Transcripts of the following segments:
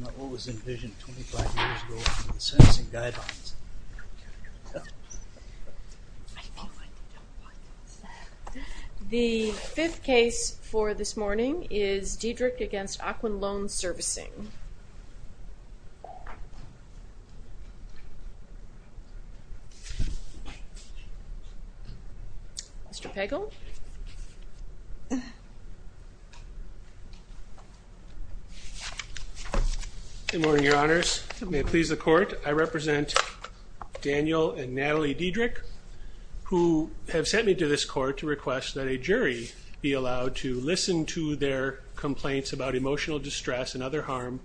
Not what was envisioned 25 years ago in the servicing guidelines. The fifth case for this morning is Diedrich v. Ocwen Loan Servicing. Mr. Pagel. Good morning, your honors. May it please the court. I represent Daniel and Natalie Diedrich, who have sent me to this court to request that a jury be allowed to listen to their complaints about emotional distress and other harm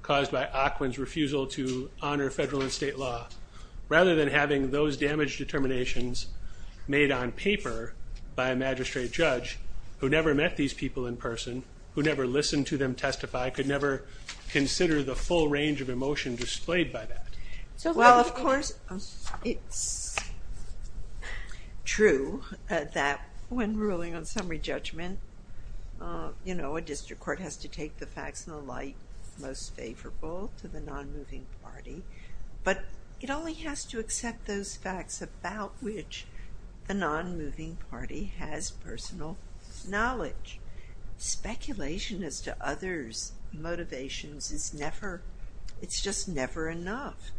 caused by Ocwen's refusal to honor federal and state law, rather than having those damage determinations made on paper by a magistrate judge who never met these people in person, who never listened to them testify, could never consider the full range of emotion displayed by that. Well, of course, it's true that when ruling on summary judgment, you know, a district court has to take the facts in the light most favorable to the non-moving party, but it only has to accept those facts about which the non-moving party has personal knowledge. Speculation as to others' motivations is never, it's just never enough.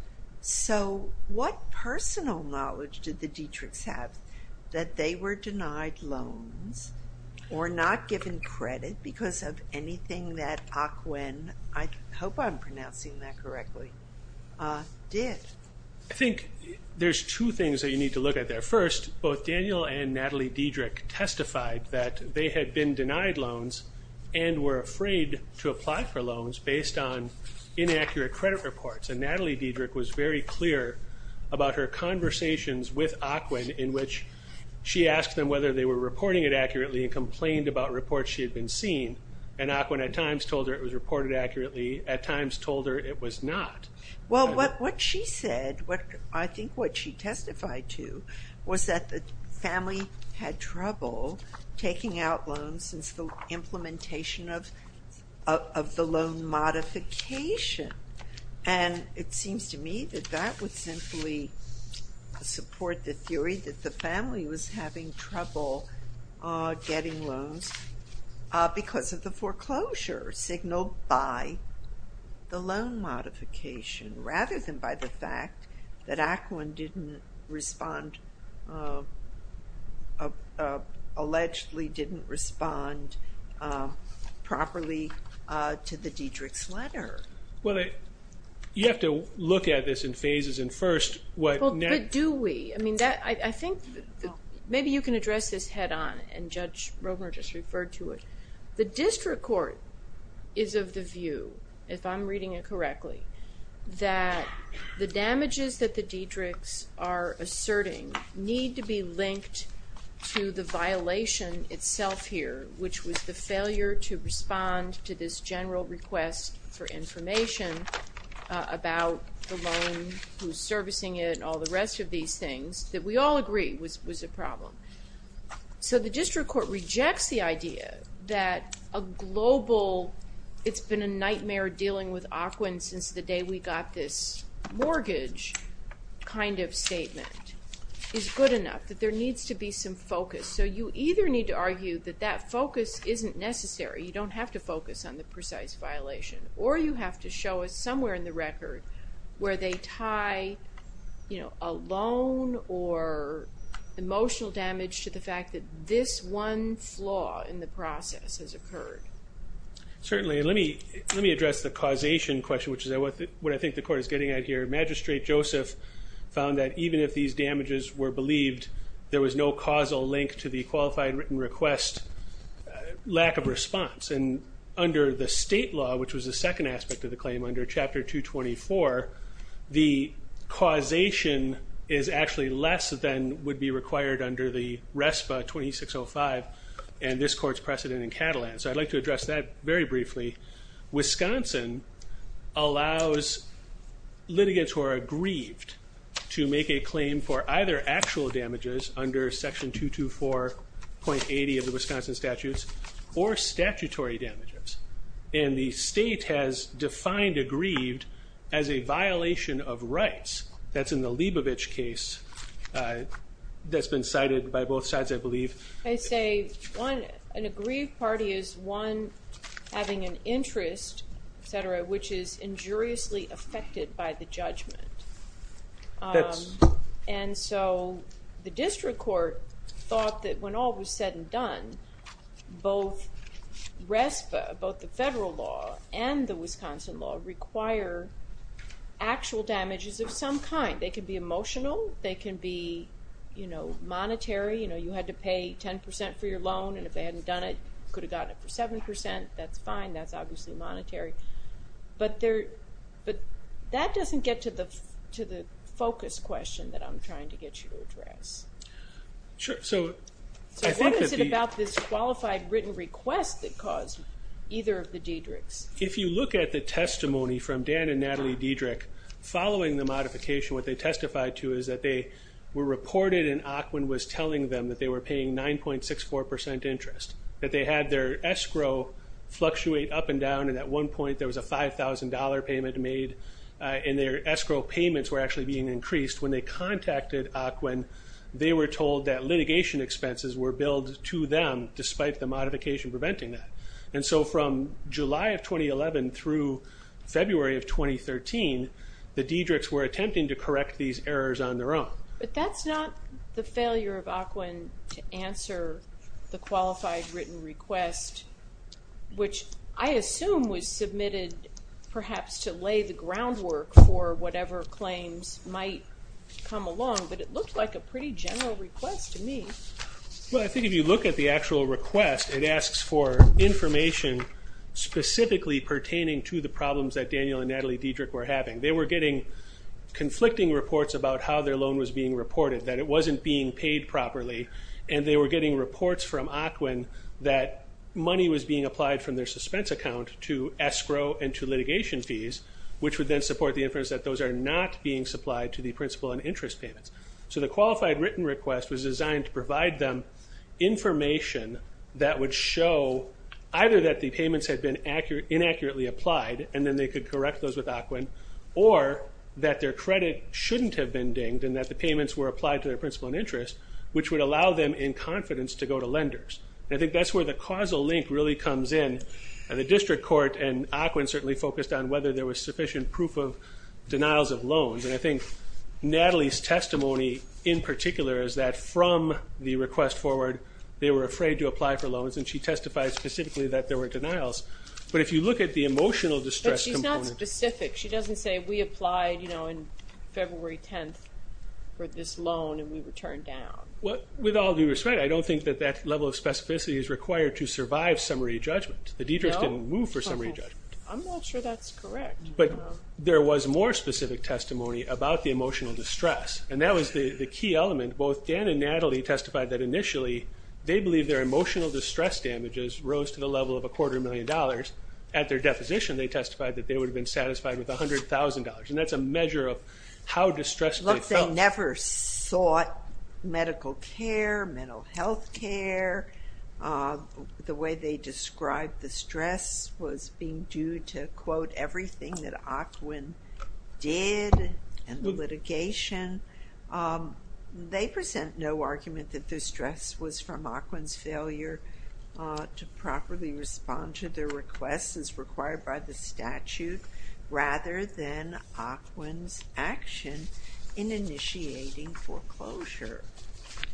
So what personal knowledge did the Diedrichs have that they were denied loans or not given credit because of anything that Ocwen, I hope I'm pronouncing that correctly, did? I think there's two things that you need to look at there. First, both Daniel and Natalie Diedrich testified that they had been denied loans and were afraid to apply for loans based on inaccurate credit reports, and Natalie Diedrich was very clear about her conversations with Ocwen in which she asked them whether they were reporting it accurately and complained about reports she had been seeing, and Ocwen at times told her it was reported accurately, at times told her it was not. Well, what she said, I think what she testified to, was that the family had trouble taking out loans since the implementation of the loan modification, and it seems to me that that would simply support the theory that the family was having trouble getting loans because of the foreclosure signaled by the loan modification rather than by the fact that Ocwen didn't respond, allegedly didn't respond properly to the Diedrich's letter. Well, you have to look at this in phases, and first what... But do we? I mean, I think maybe you can address this head-on, and Judge Romer just referred to it. The district court is of the view, if I'm reading it correctly, that the damages that the Diedrichs are asserting need to be linked to the violation itself here, which was the failure to respond to this general request for information about the loan, who's servicing it, and all the rest of these things, that we all agree was a problem. So the district court rejects the idea that a global... the day we got this mortgage kind of statement is good enough, that there needs to be some focus. So you either need to argue that that focus isn't necessary, you don't have to focus on the precise violation, or you have to show us somewhere in the record where they tie a loan or emotional damage to the fact that this one flaw in the process has occurred. Certainly. Let me address the causation question, which is what I think the court is getting at here. Magistrate Joseph found that even if these damages were believed, there was no causal link to the qualified written request lack of response. And under the state law, which was the second aspect of the claim under Chapter 224, the causation is actually less than would be required under the RESPA 2605, and this court's precedent in Catalan. So I'd like to address that very briefly. Wisconsin allows litigants who are aggrieved to make a claim for either actual damages under Section 224.80 of the Wisconsin statutes, or statutory damages. And the state has defined aggrieved as a violation of rights. That's in the Leibovich case that's been cited by both sides, I believe. I say an aggrieved party is one having an interest, et cetera, which is injuriously affected by the judgment. And so the district court thought that when all was said and done, both RESPA, both the federal law and the Wisconsin law, require actual damages of some kind. They can be emotional. They can be, you know, monetary. You know, you had to pay 10% for your loan, and if they hadn't done it, could have gotten it for 7%. That's fine. That's obviously monetary. But that doesn't get to the focus question that I'm trying to get you to address. So what is it about this qualified written request that caused either of the Diedrichs? If you look at the testimony from Dan and Natalie Diedrich following the modification, what they testified to is that they were reported and AQUIN was telling them that they were paying 9.64% interest, that they had their escrow fluctuate up and down, and at one point there was a $5,000 payment made, and their escrow payments were actually being increased. When they contacted AQUIN, they were told that litigation expenses were billed to them, despite the modification preventing that. And so from July of 2011 through February of 2013, the Diedrichs were attempting to correct these errors on their own. But that's not the failure of AQUIN to answer the qualified written request, which I assume was submitted perhaps to lay the groundwork for whatever claims might come along, but it looked like a pretty general request to me. Well, I think if you look at the actual request, it asks for information specifically pertaining to the problems that Daniel and Natalie Diedrich were having. They were getting conflicting reports about how their loan was being reported, that it wasn't being paid properly, and they were getting reports from AQUIN that money was being applied from their suspense account to escrow and to litigation fees, which would then support the inference that those are not being supplied to the principal and interest payments. So the qualified written request was designed to provide them information that would show either that the payments had been inaccurately applied, and then they could correct those with AQUIN, or that their credit shouldn't have been dinged and that the payments were applied to their principal and interest, which would allow them in confidence to go to lenders. And I think that's where the causal link really comes in. The district court and AQUIN certainly focused on whether there was sufficient proof of denials of loans, and I think Natalie's testimony in particular is that from the request forward they were afraid to apply for loans, and she testified specifically that there were denials. But if you look at the emotional distress component... But she's not specific. She doesn't say, We applied, you know, on February 10th for this loan, and we were turned down. Well, with all due respect, I don't think that that level of specificity is required to survive summary judgment. The detractors didn't move for summary judgment. I'm not sure that's correct. But there was more specific testimony about the emotional distress, and that was the key element. Both Dan and Natalie testified that initially they believed their emotional distress damages rose to the level of a quarter million dollars. At their deposition they testified that they would have been satisfied with $100,000, and that's a measure of how distressed they felt. Look, they never sought medical care, mental health care. The way they described the stress was being due to, quote, everything that AQUIN did and the litigation. They present no argument that the stress was from AQUIN's failure to properly respond to their requests as required by the statute, rather than AQUIN's action in initiating foreclosure.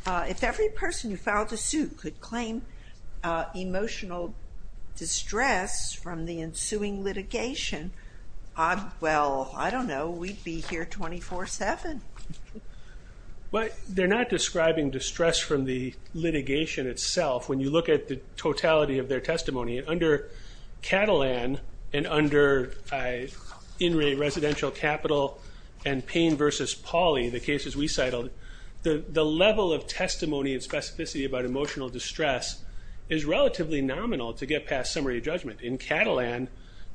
If every person who filed a suit could claim emotional distress from the ensuing litigation, well, I don't know. We'd be here 24-7. Well, they're not describing distress from the litigation itself. When you look at the totality of their testimony, under Catalan and under in-rate residential capital and pain versus poly, the cases we cited, the level of testimony and specificity about emotional distress is relatively nominal to get past summary judgment. In Catalan,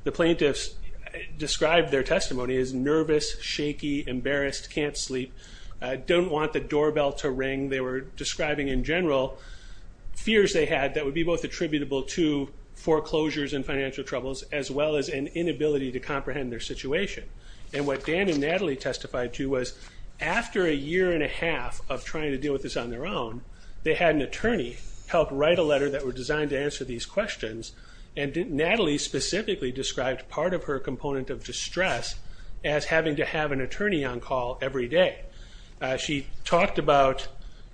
the plaintiffs described their testimony as nervous, shaky, embarrassed, can't sleep, don't want the doorbell to ring. They were describing in general fears they had that would be both attributable to foreclosures and financial troubles as well as an inability to comprehend their situation. And what Dan and Natalie testified to was after a year and a half of trying to deal with this on their own, they had an attorney help write a letter that were designed to answer these questions and Natalie specifically described part of her component of distress as having to have an attorney on call every day. She talked about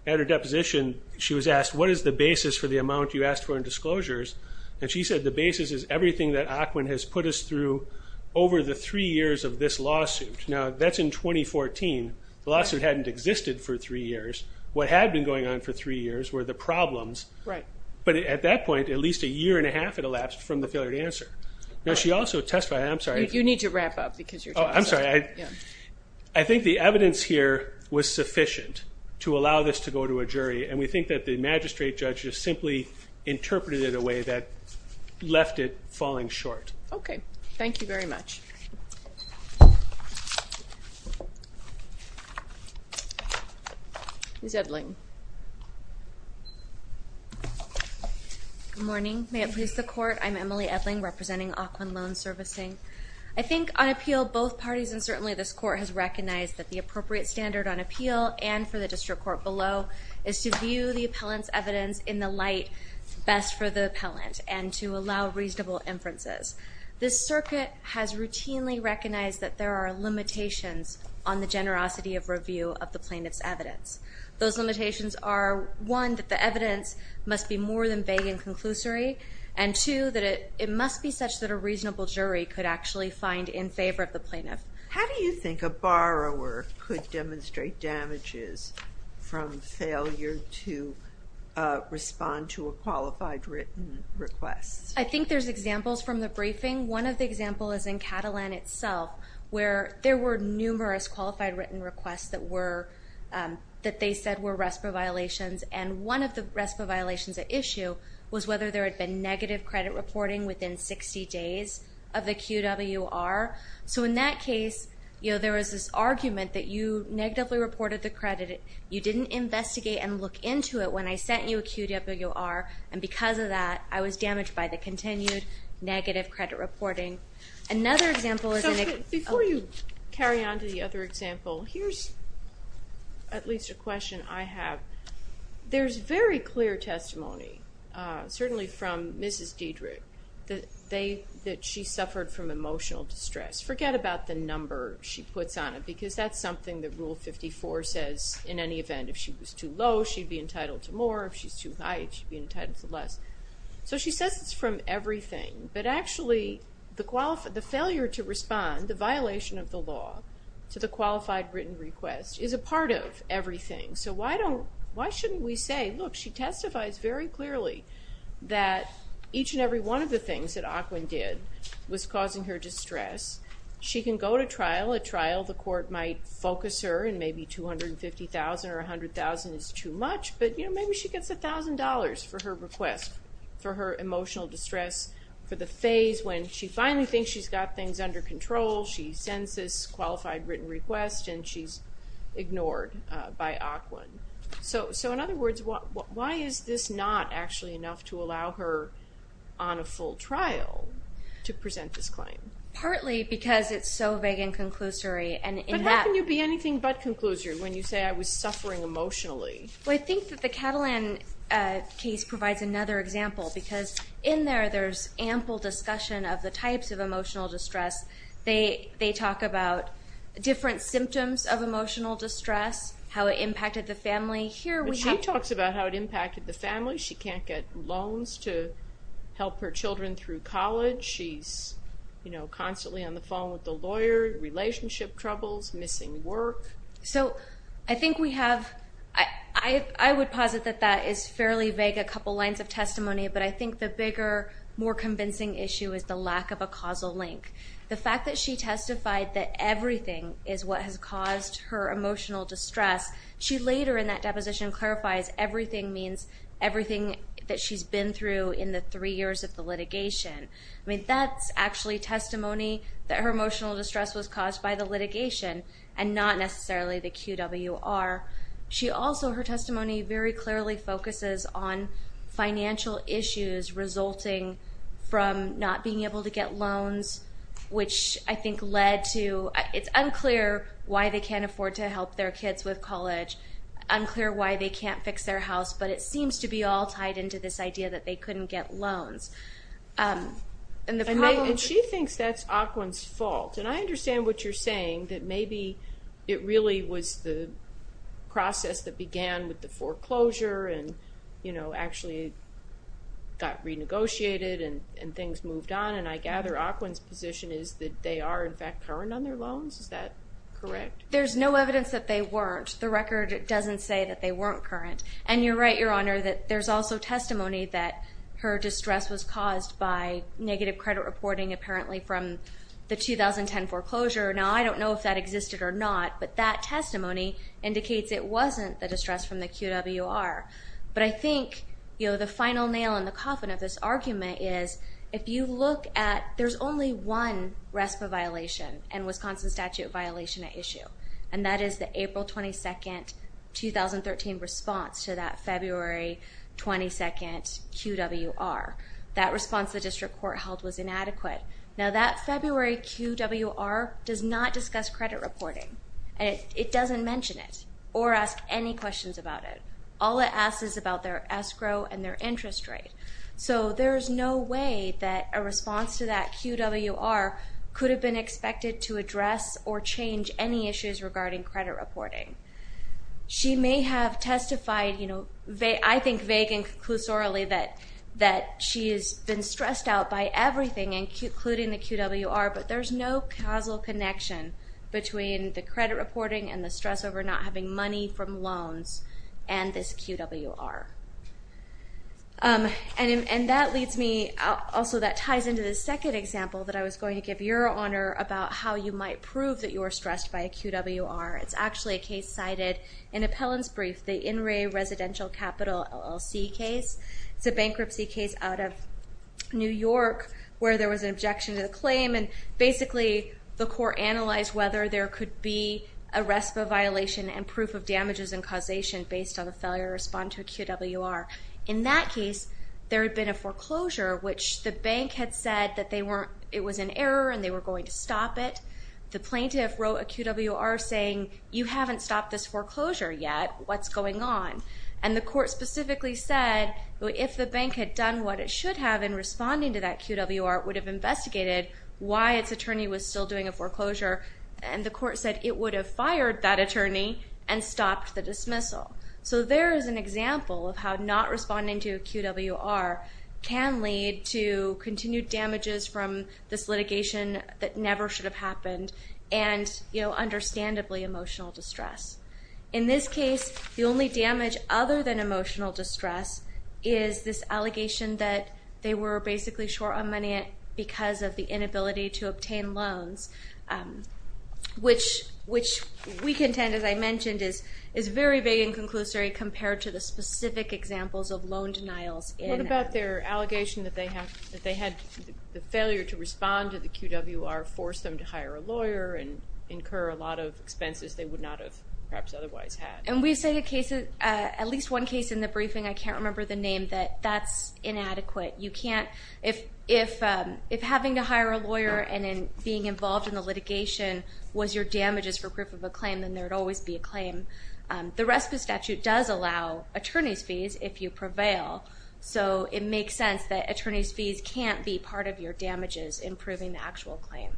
at her deposition, she was asked, what is the basis for the amount you asked for in disclosures? And she said the basis is everything that AQUIN has put us through over the three years of this lawsuit. Now, that's in 2014. The lawsuit hadn't existed for three years. What had been going on for three years were the problems. Right. But at that point, at least a year and a half had elapsed from the failure to answer. Now, she also testified, I'm sorry. You need to wrap up because you're talking so much. I'm sorry. I think the evidence here was sufficient to allow this to go to a jury and we think that the magistrate judges simply interpreted it in a way that left it falling short. Okay. Thank you very much. Who's Edling? Good morning. May it please the Court. I'm Emily Edling representing AQUIN Loan Servicing. I think on appeal, both parties and certainly this Court has recognized that the appropriate standard on appeal and for the district court below is to view the appellant's evidence in the light best for the appellant and to allow reasonable inferences. This circuit has routinely recognized that there are limitations on the generosity of review of the plaintiff's evidence. Those limitations are, one, that the evidence must be more than vague and conclusory, and two, that it must be such that a reasonable jury could actually find in favor of the plaintiff. How do you think a borrower could demonstrate damages from failure to respond to a qualified written request? I think there's examples from the briefing. One of the examples is in Catalan itself where there were numerous qualified written requests that they said were RESPA violations, and one of the RESPA violations at issue was whether there had been negative credit reporting within 60 days of the QWR. So in that case, there was this argument that you negatively reported the credit, you didn't investigate and look into it when I sent you a QWR, and because of that, I was damaged by the continued negative credit reporting. Another example is in... Before you carry on to the other example, here's at least a question I have. There's very clear testimony, certainly from Mrs. Diedrich, that she suffered from emotional distress. Forget about the number she puts on it because that's something that Rule 54 says. In any event, if she was too low, she'd be entitled to more. If she's too high, she'd be entitled to less. So she says it's from everything, but actually the failure to respond, the violation of the law to the qualified written request, is a part of everything. So why shouldn't we say, look, she testifies very clearly that each and every one of the things that AQUIN did was causing her distress. She can go to trial. At trial, the court might focus her and maybe $250,000 or $100,000 is too much, but maybe she gets $1,000 for her request for her emotional distress, for the phase when she finally thinks she's got things under control. She sends this qualified written request, and she's ignored by AQUIN. So in other words, why is this not actually enough to allow her on a full trial to present this claim? Partly because it's so vague and conclusory. But how can you be anything but conclusory when you say I was suffering emotionally? Well, I think that the Catalan case provides another example, because in there there's ample discussion of the types of emotional distress. They talk about different symptoms of emotional distress, how it impacted the family. She talks about how it impacted the family. She can't get loans to help her children through college. She's constantly on the phone with the lawyer, relationship troubles, missing work. So I think we have – I would posit that that is fairly vague, a couple lines of testimony. But I think the bigger, more convincing issue is the lack of a causal link. The fact that she testified that everything is what has caused her emotional distress, she later in that deposition clarifies everything means everything that she's been through in the three years of the litigation. That's actually testimony that her emotional distress was caused by the litigation and not necessarily the QWR. She also, her testimony very clearly focuses on financial issues resulting from not being able to get loans, which I think led to – it's unclear why they can't afford to help their kids with college, unclear why they can't fix their house, but it seems to be all tied into this idea that they couldn't get loans. And she thinks that's Ocwen's fault. And I understand what you're saying, that maybe it really was the process that began with the foreclosure and actually got renegotiated and things moved on. And I gather Ocwen's position is that they are, in fact, current on their loans. Is that correct? There's no evidence that they weren't. The record doesn't say that they weren't current. And you're right, Your Honor, that there's also testimony that her distress was caused by negative credit reporting apparently from the 2010 foreclosure. Now, I don't know if that existed or not, but that testimony indicates it wasn't the distress from the QWR. But I think the final nail in the coffin of this argument is if you look at – there's only one RESPA violation and Wisconsin statute violation at issue, and that is the April 22, 2013 response to that February 22 QWR. That response the district court held was inadequate. Now, that February QWR does not discuss credit reporting. It doesn't mention it or ask any questions about it. All it asks is about their escrow and their interest rate. So there's no way that a response to that QWR could have been expected to address or change any issues regarding credit reporting. She may have testified, I think vague and conclusorily, that she has been stressed out by everything including the QWR, but there's no causal connection between the credit reporting and the stress over not having money from loans and this QWR. And that leads me – also that ties into the second example that I was going to give, Your Honor, about how you might prove that you were stressed by a QWR. It's actually a case cited in Appellant's brief, the In Re Residential Capital LLC case. It's a bankruptcy case out of New York where there was an objection to the claim, and basically the court analyzed whether there could be a RESPA violation and proof of damages and causation based on a failure to respond to a QWR. In that case, there had been a foreclosure, which the bank had said that it was an error and they were going to stop it. The plaintiff wrote a QWR saying, You haven't stopped this foreclosure yet. What's going on? And the court specifically said, If the bank had done what it should have in responding to that QWR, it would have investigated why its attorney was still doing a foreclosure. And the court said it would have fired that attorney and stopped the dismissal. So there is an example of how not responding to a QWR can lead to continued damages from this litigation that never should have happened and understandably emotional distress. In this case, the only damage other than emotional distress is this allegation that they were basically short on money because of the inability to obtain loans, which we contend, as I mentioned, is very vague and conclusory compared to the specific examples of loan denials. What about their allegation that they had the failure to respond to the QWR force them to hire a lawyer and incur a lot of expenses they would not have perhaps otherwise had? And we say at least one case in the briefing, I can't remember the name, that that's inadequate. If having to hire a lawyer and then being involved in the litigation was your damages for proof of a claim, then there would always be a claim. The RESPA statute does allow attorney's fees if you prevail. So it makes sense that attorney's fees can't be part of your damages in proving the actual claim.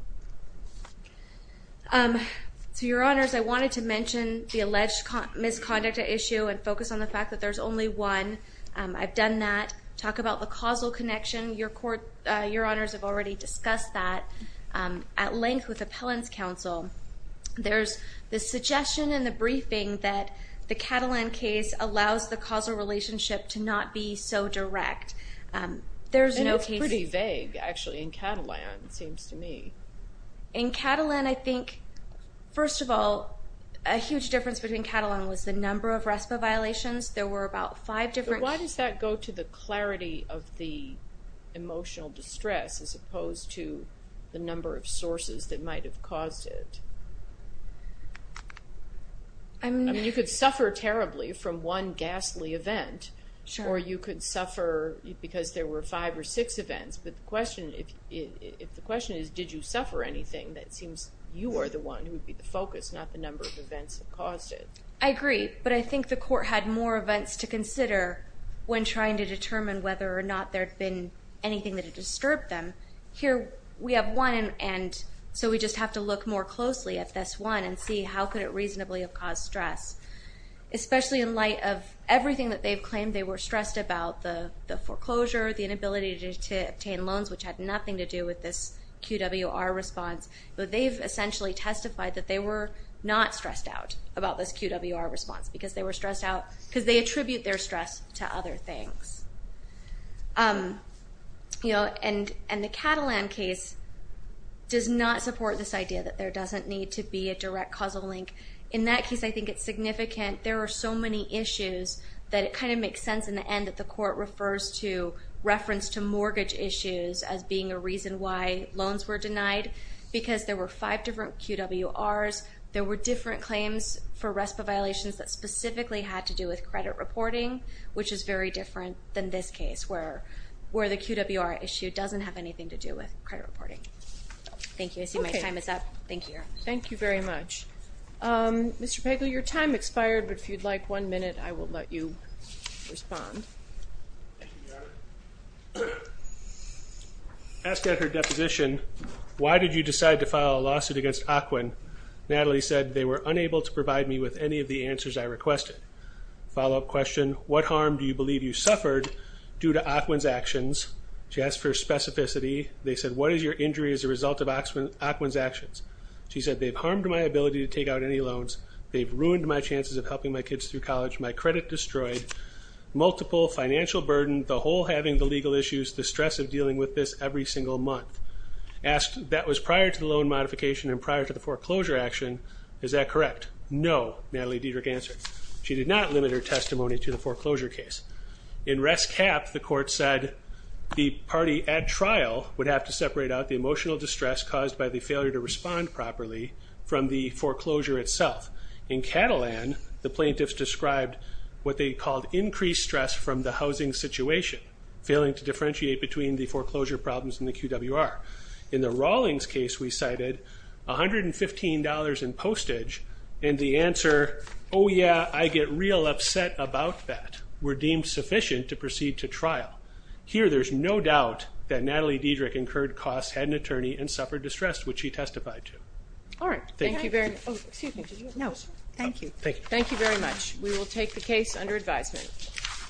So, Your Honors, I wanted to mention the alleged misconduct issue and focus on the fact that there's only one. I've done that. Talk about the causal connection. Your Honors have already discussed that. At length with Appellant's Counsel, there's the suggestion in the briefing that the Catalan case allows the causal relationship to not be so direct. And it's pretty vague, actually, in Catalan, it seems to me. In Catalan, I think, first of all, a huge difference between Catalan was the number of RESPA violations. There were about five different cases. Why does that go to the clarity of the emotional distress as opposed to the number of sources that might have caused it? I mean, you could suffer terribly from one ghastly event, or you could suffer because there were five or six events. But the question is, did you suffer anything? It seems you are the one who would be the focus, not the number of events that caused it. I agree, but I think the court had more events to consider when trying to determine whether or not there had been anything that had disturbed them. Here we have one, and so we just have to look more closely at this one and see how could it reasonably have caused stress, especially in light of everything that they've claimed they were stressed about, the foreclosure, the inability to obtain loans, which had nothing to do with this QWR response. But they've essentially testified that they were not stressed out about this QWR response because they were stressed out because they attribute their stress to other things. And the Catalan case does not support this idea that there doesn't need to be a direct causal link. In that case, I think it's significant. There are so many issues that it kind of makes sense in the end that the court refers to reference to mortgage issues as being a reason why loans were denied because there were five different QWRs. There were different claims for RESPA violations that specifically had to do with credit reporting, which is very different than this case where the QWR issue doesn't have anything to do with credit reporting. Thank you. I see my time is up. Thank you. Thank you very much. Mr. Pegley, your time expired, but if you'd like one minute, I will let you respond. Asked at her deposition, why did you decide to file a lawsuit against AQUIN? Natalie said they were unable to provide me with any of the answers I requested. Follow-up question, what harm do you believe you suffered due to AQUIN's actions? She asked for specificity. They said, what is your injury as a result of AQUIN's actions? She said, they've harmed my ability to take out any loans. They've ruined my chances of helping my kids through college. My credit destroyed. Multiple financial burden, the whole having the legal issues, the stress of dealing with this every single month. Asked, that was prior to the loan modification and prior to the foreclosure action. Is that correct? No, Natalie Diederich answered. She did not limit her testimony to the foreclosure case. In rest cap, the court said the party at trial would have to separate out the emotional distress caused by the failure to respond properly from the foreclosure itself. In Catalan, the plaintiffs described what they called increased stress from the housing situation, failing to differentiate between the foreclosure problems and the QWR. In the Rawlings case, we cited $115 in postage and the answer, oh yeah, I get real upset about that, were deemed sufficient to proceed to trial. Here, there's no doubt that Natalie Diederich incurred costs, had an attorney, and suffered distress, which she testified to. All right. Thank you very much. Oh, excuse me. No, thank you. Thank you very much. We will take the case under advisement.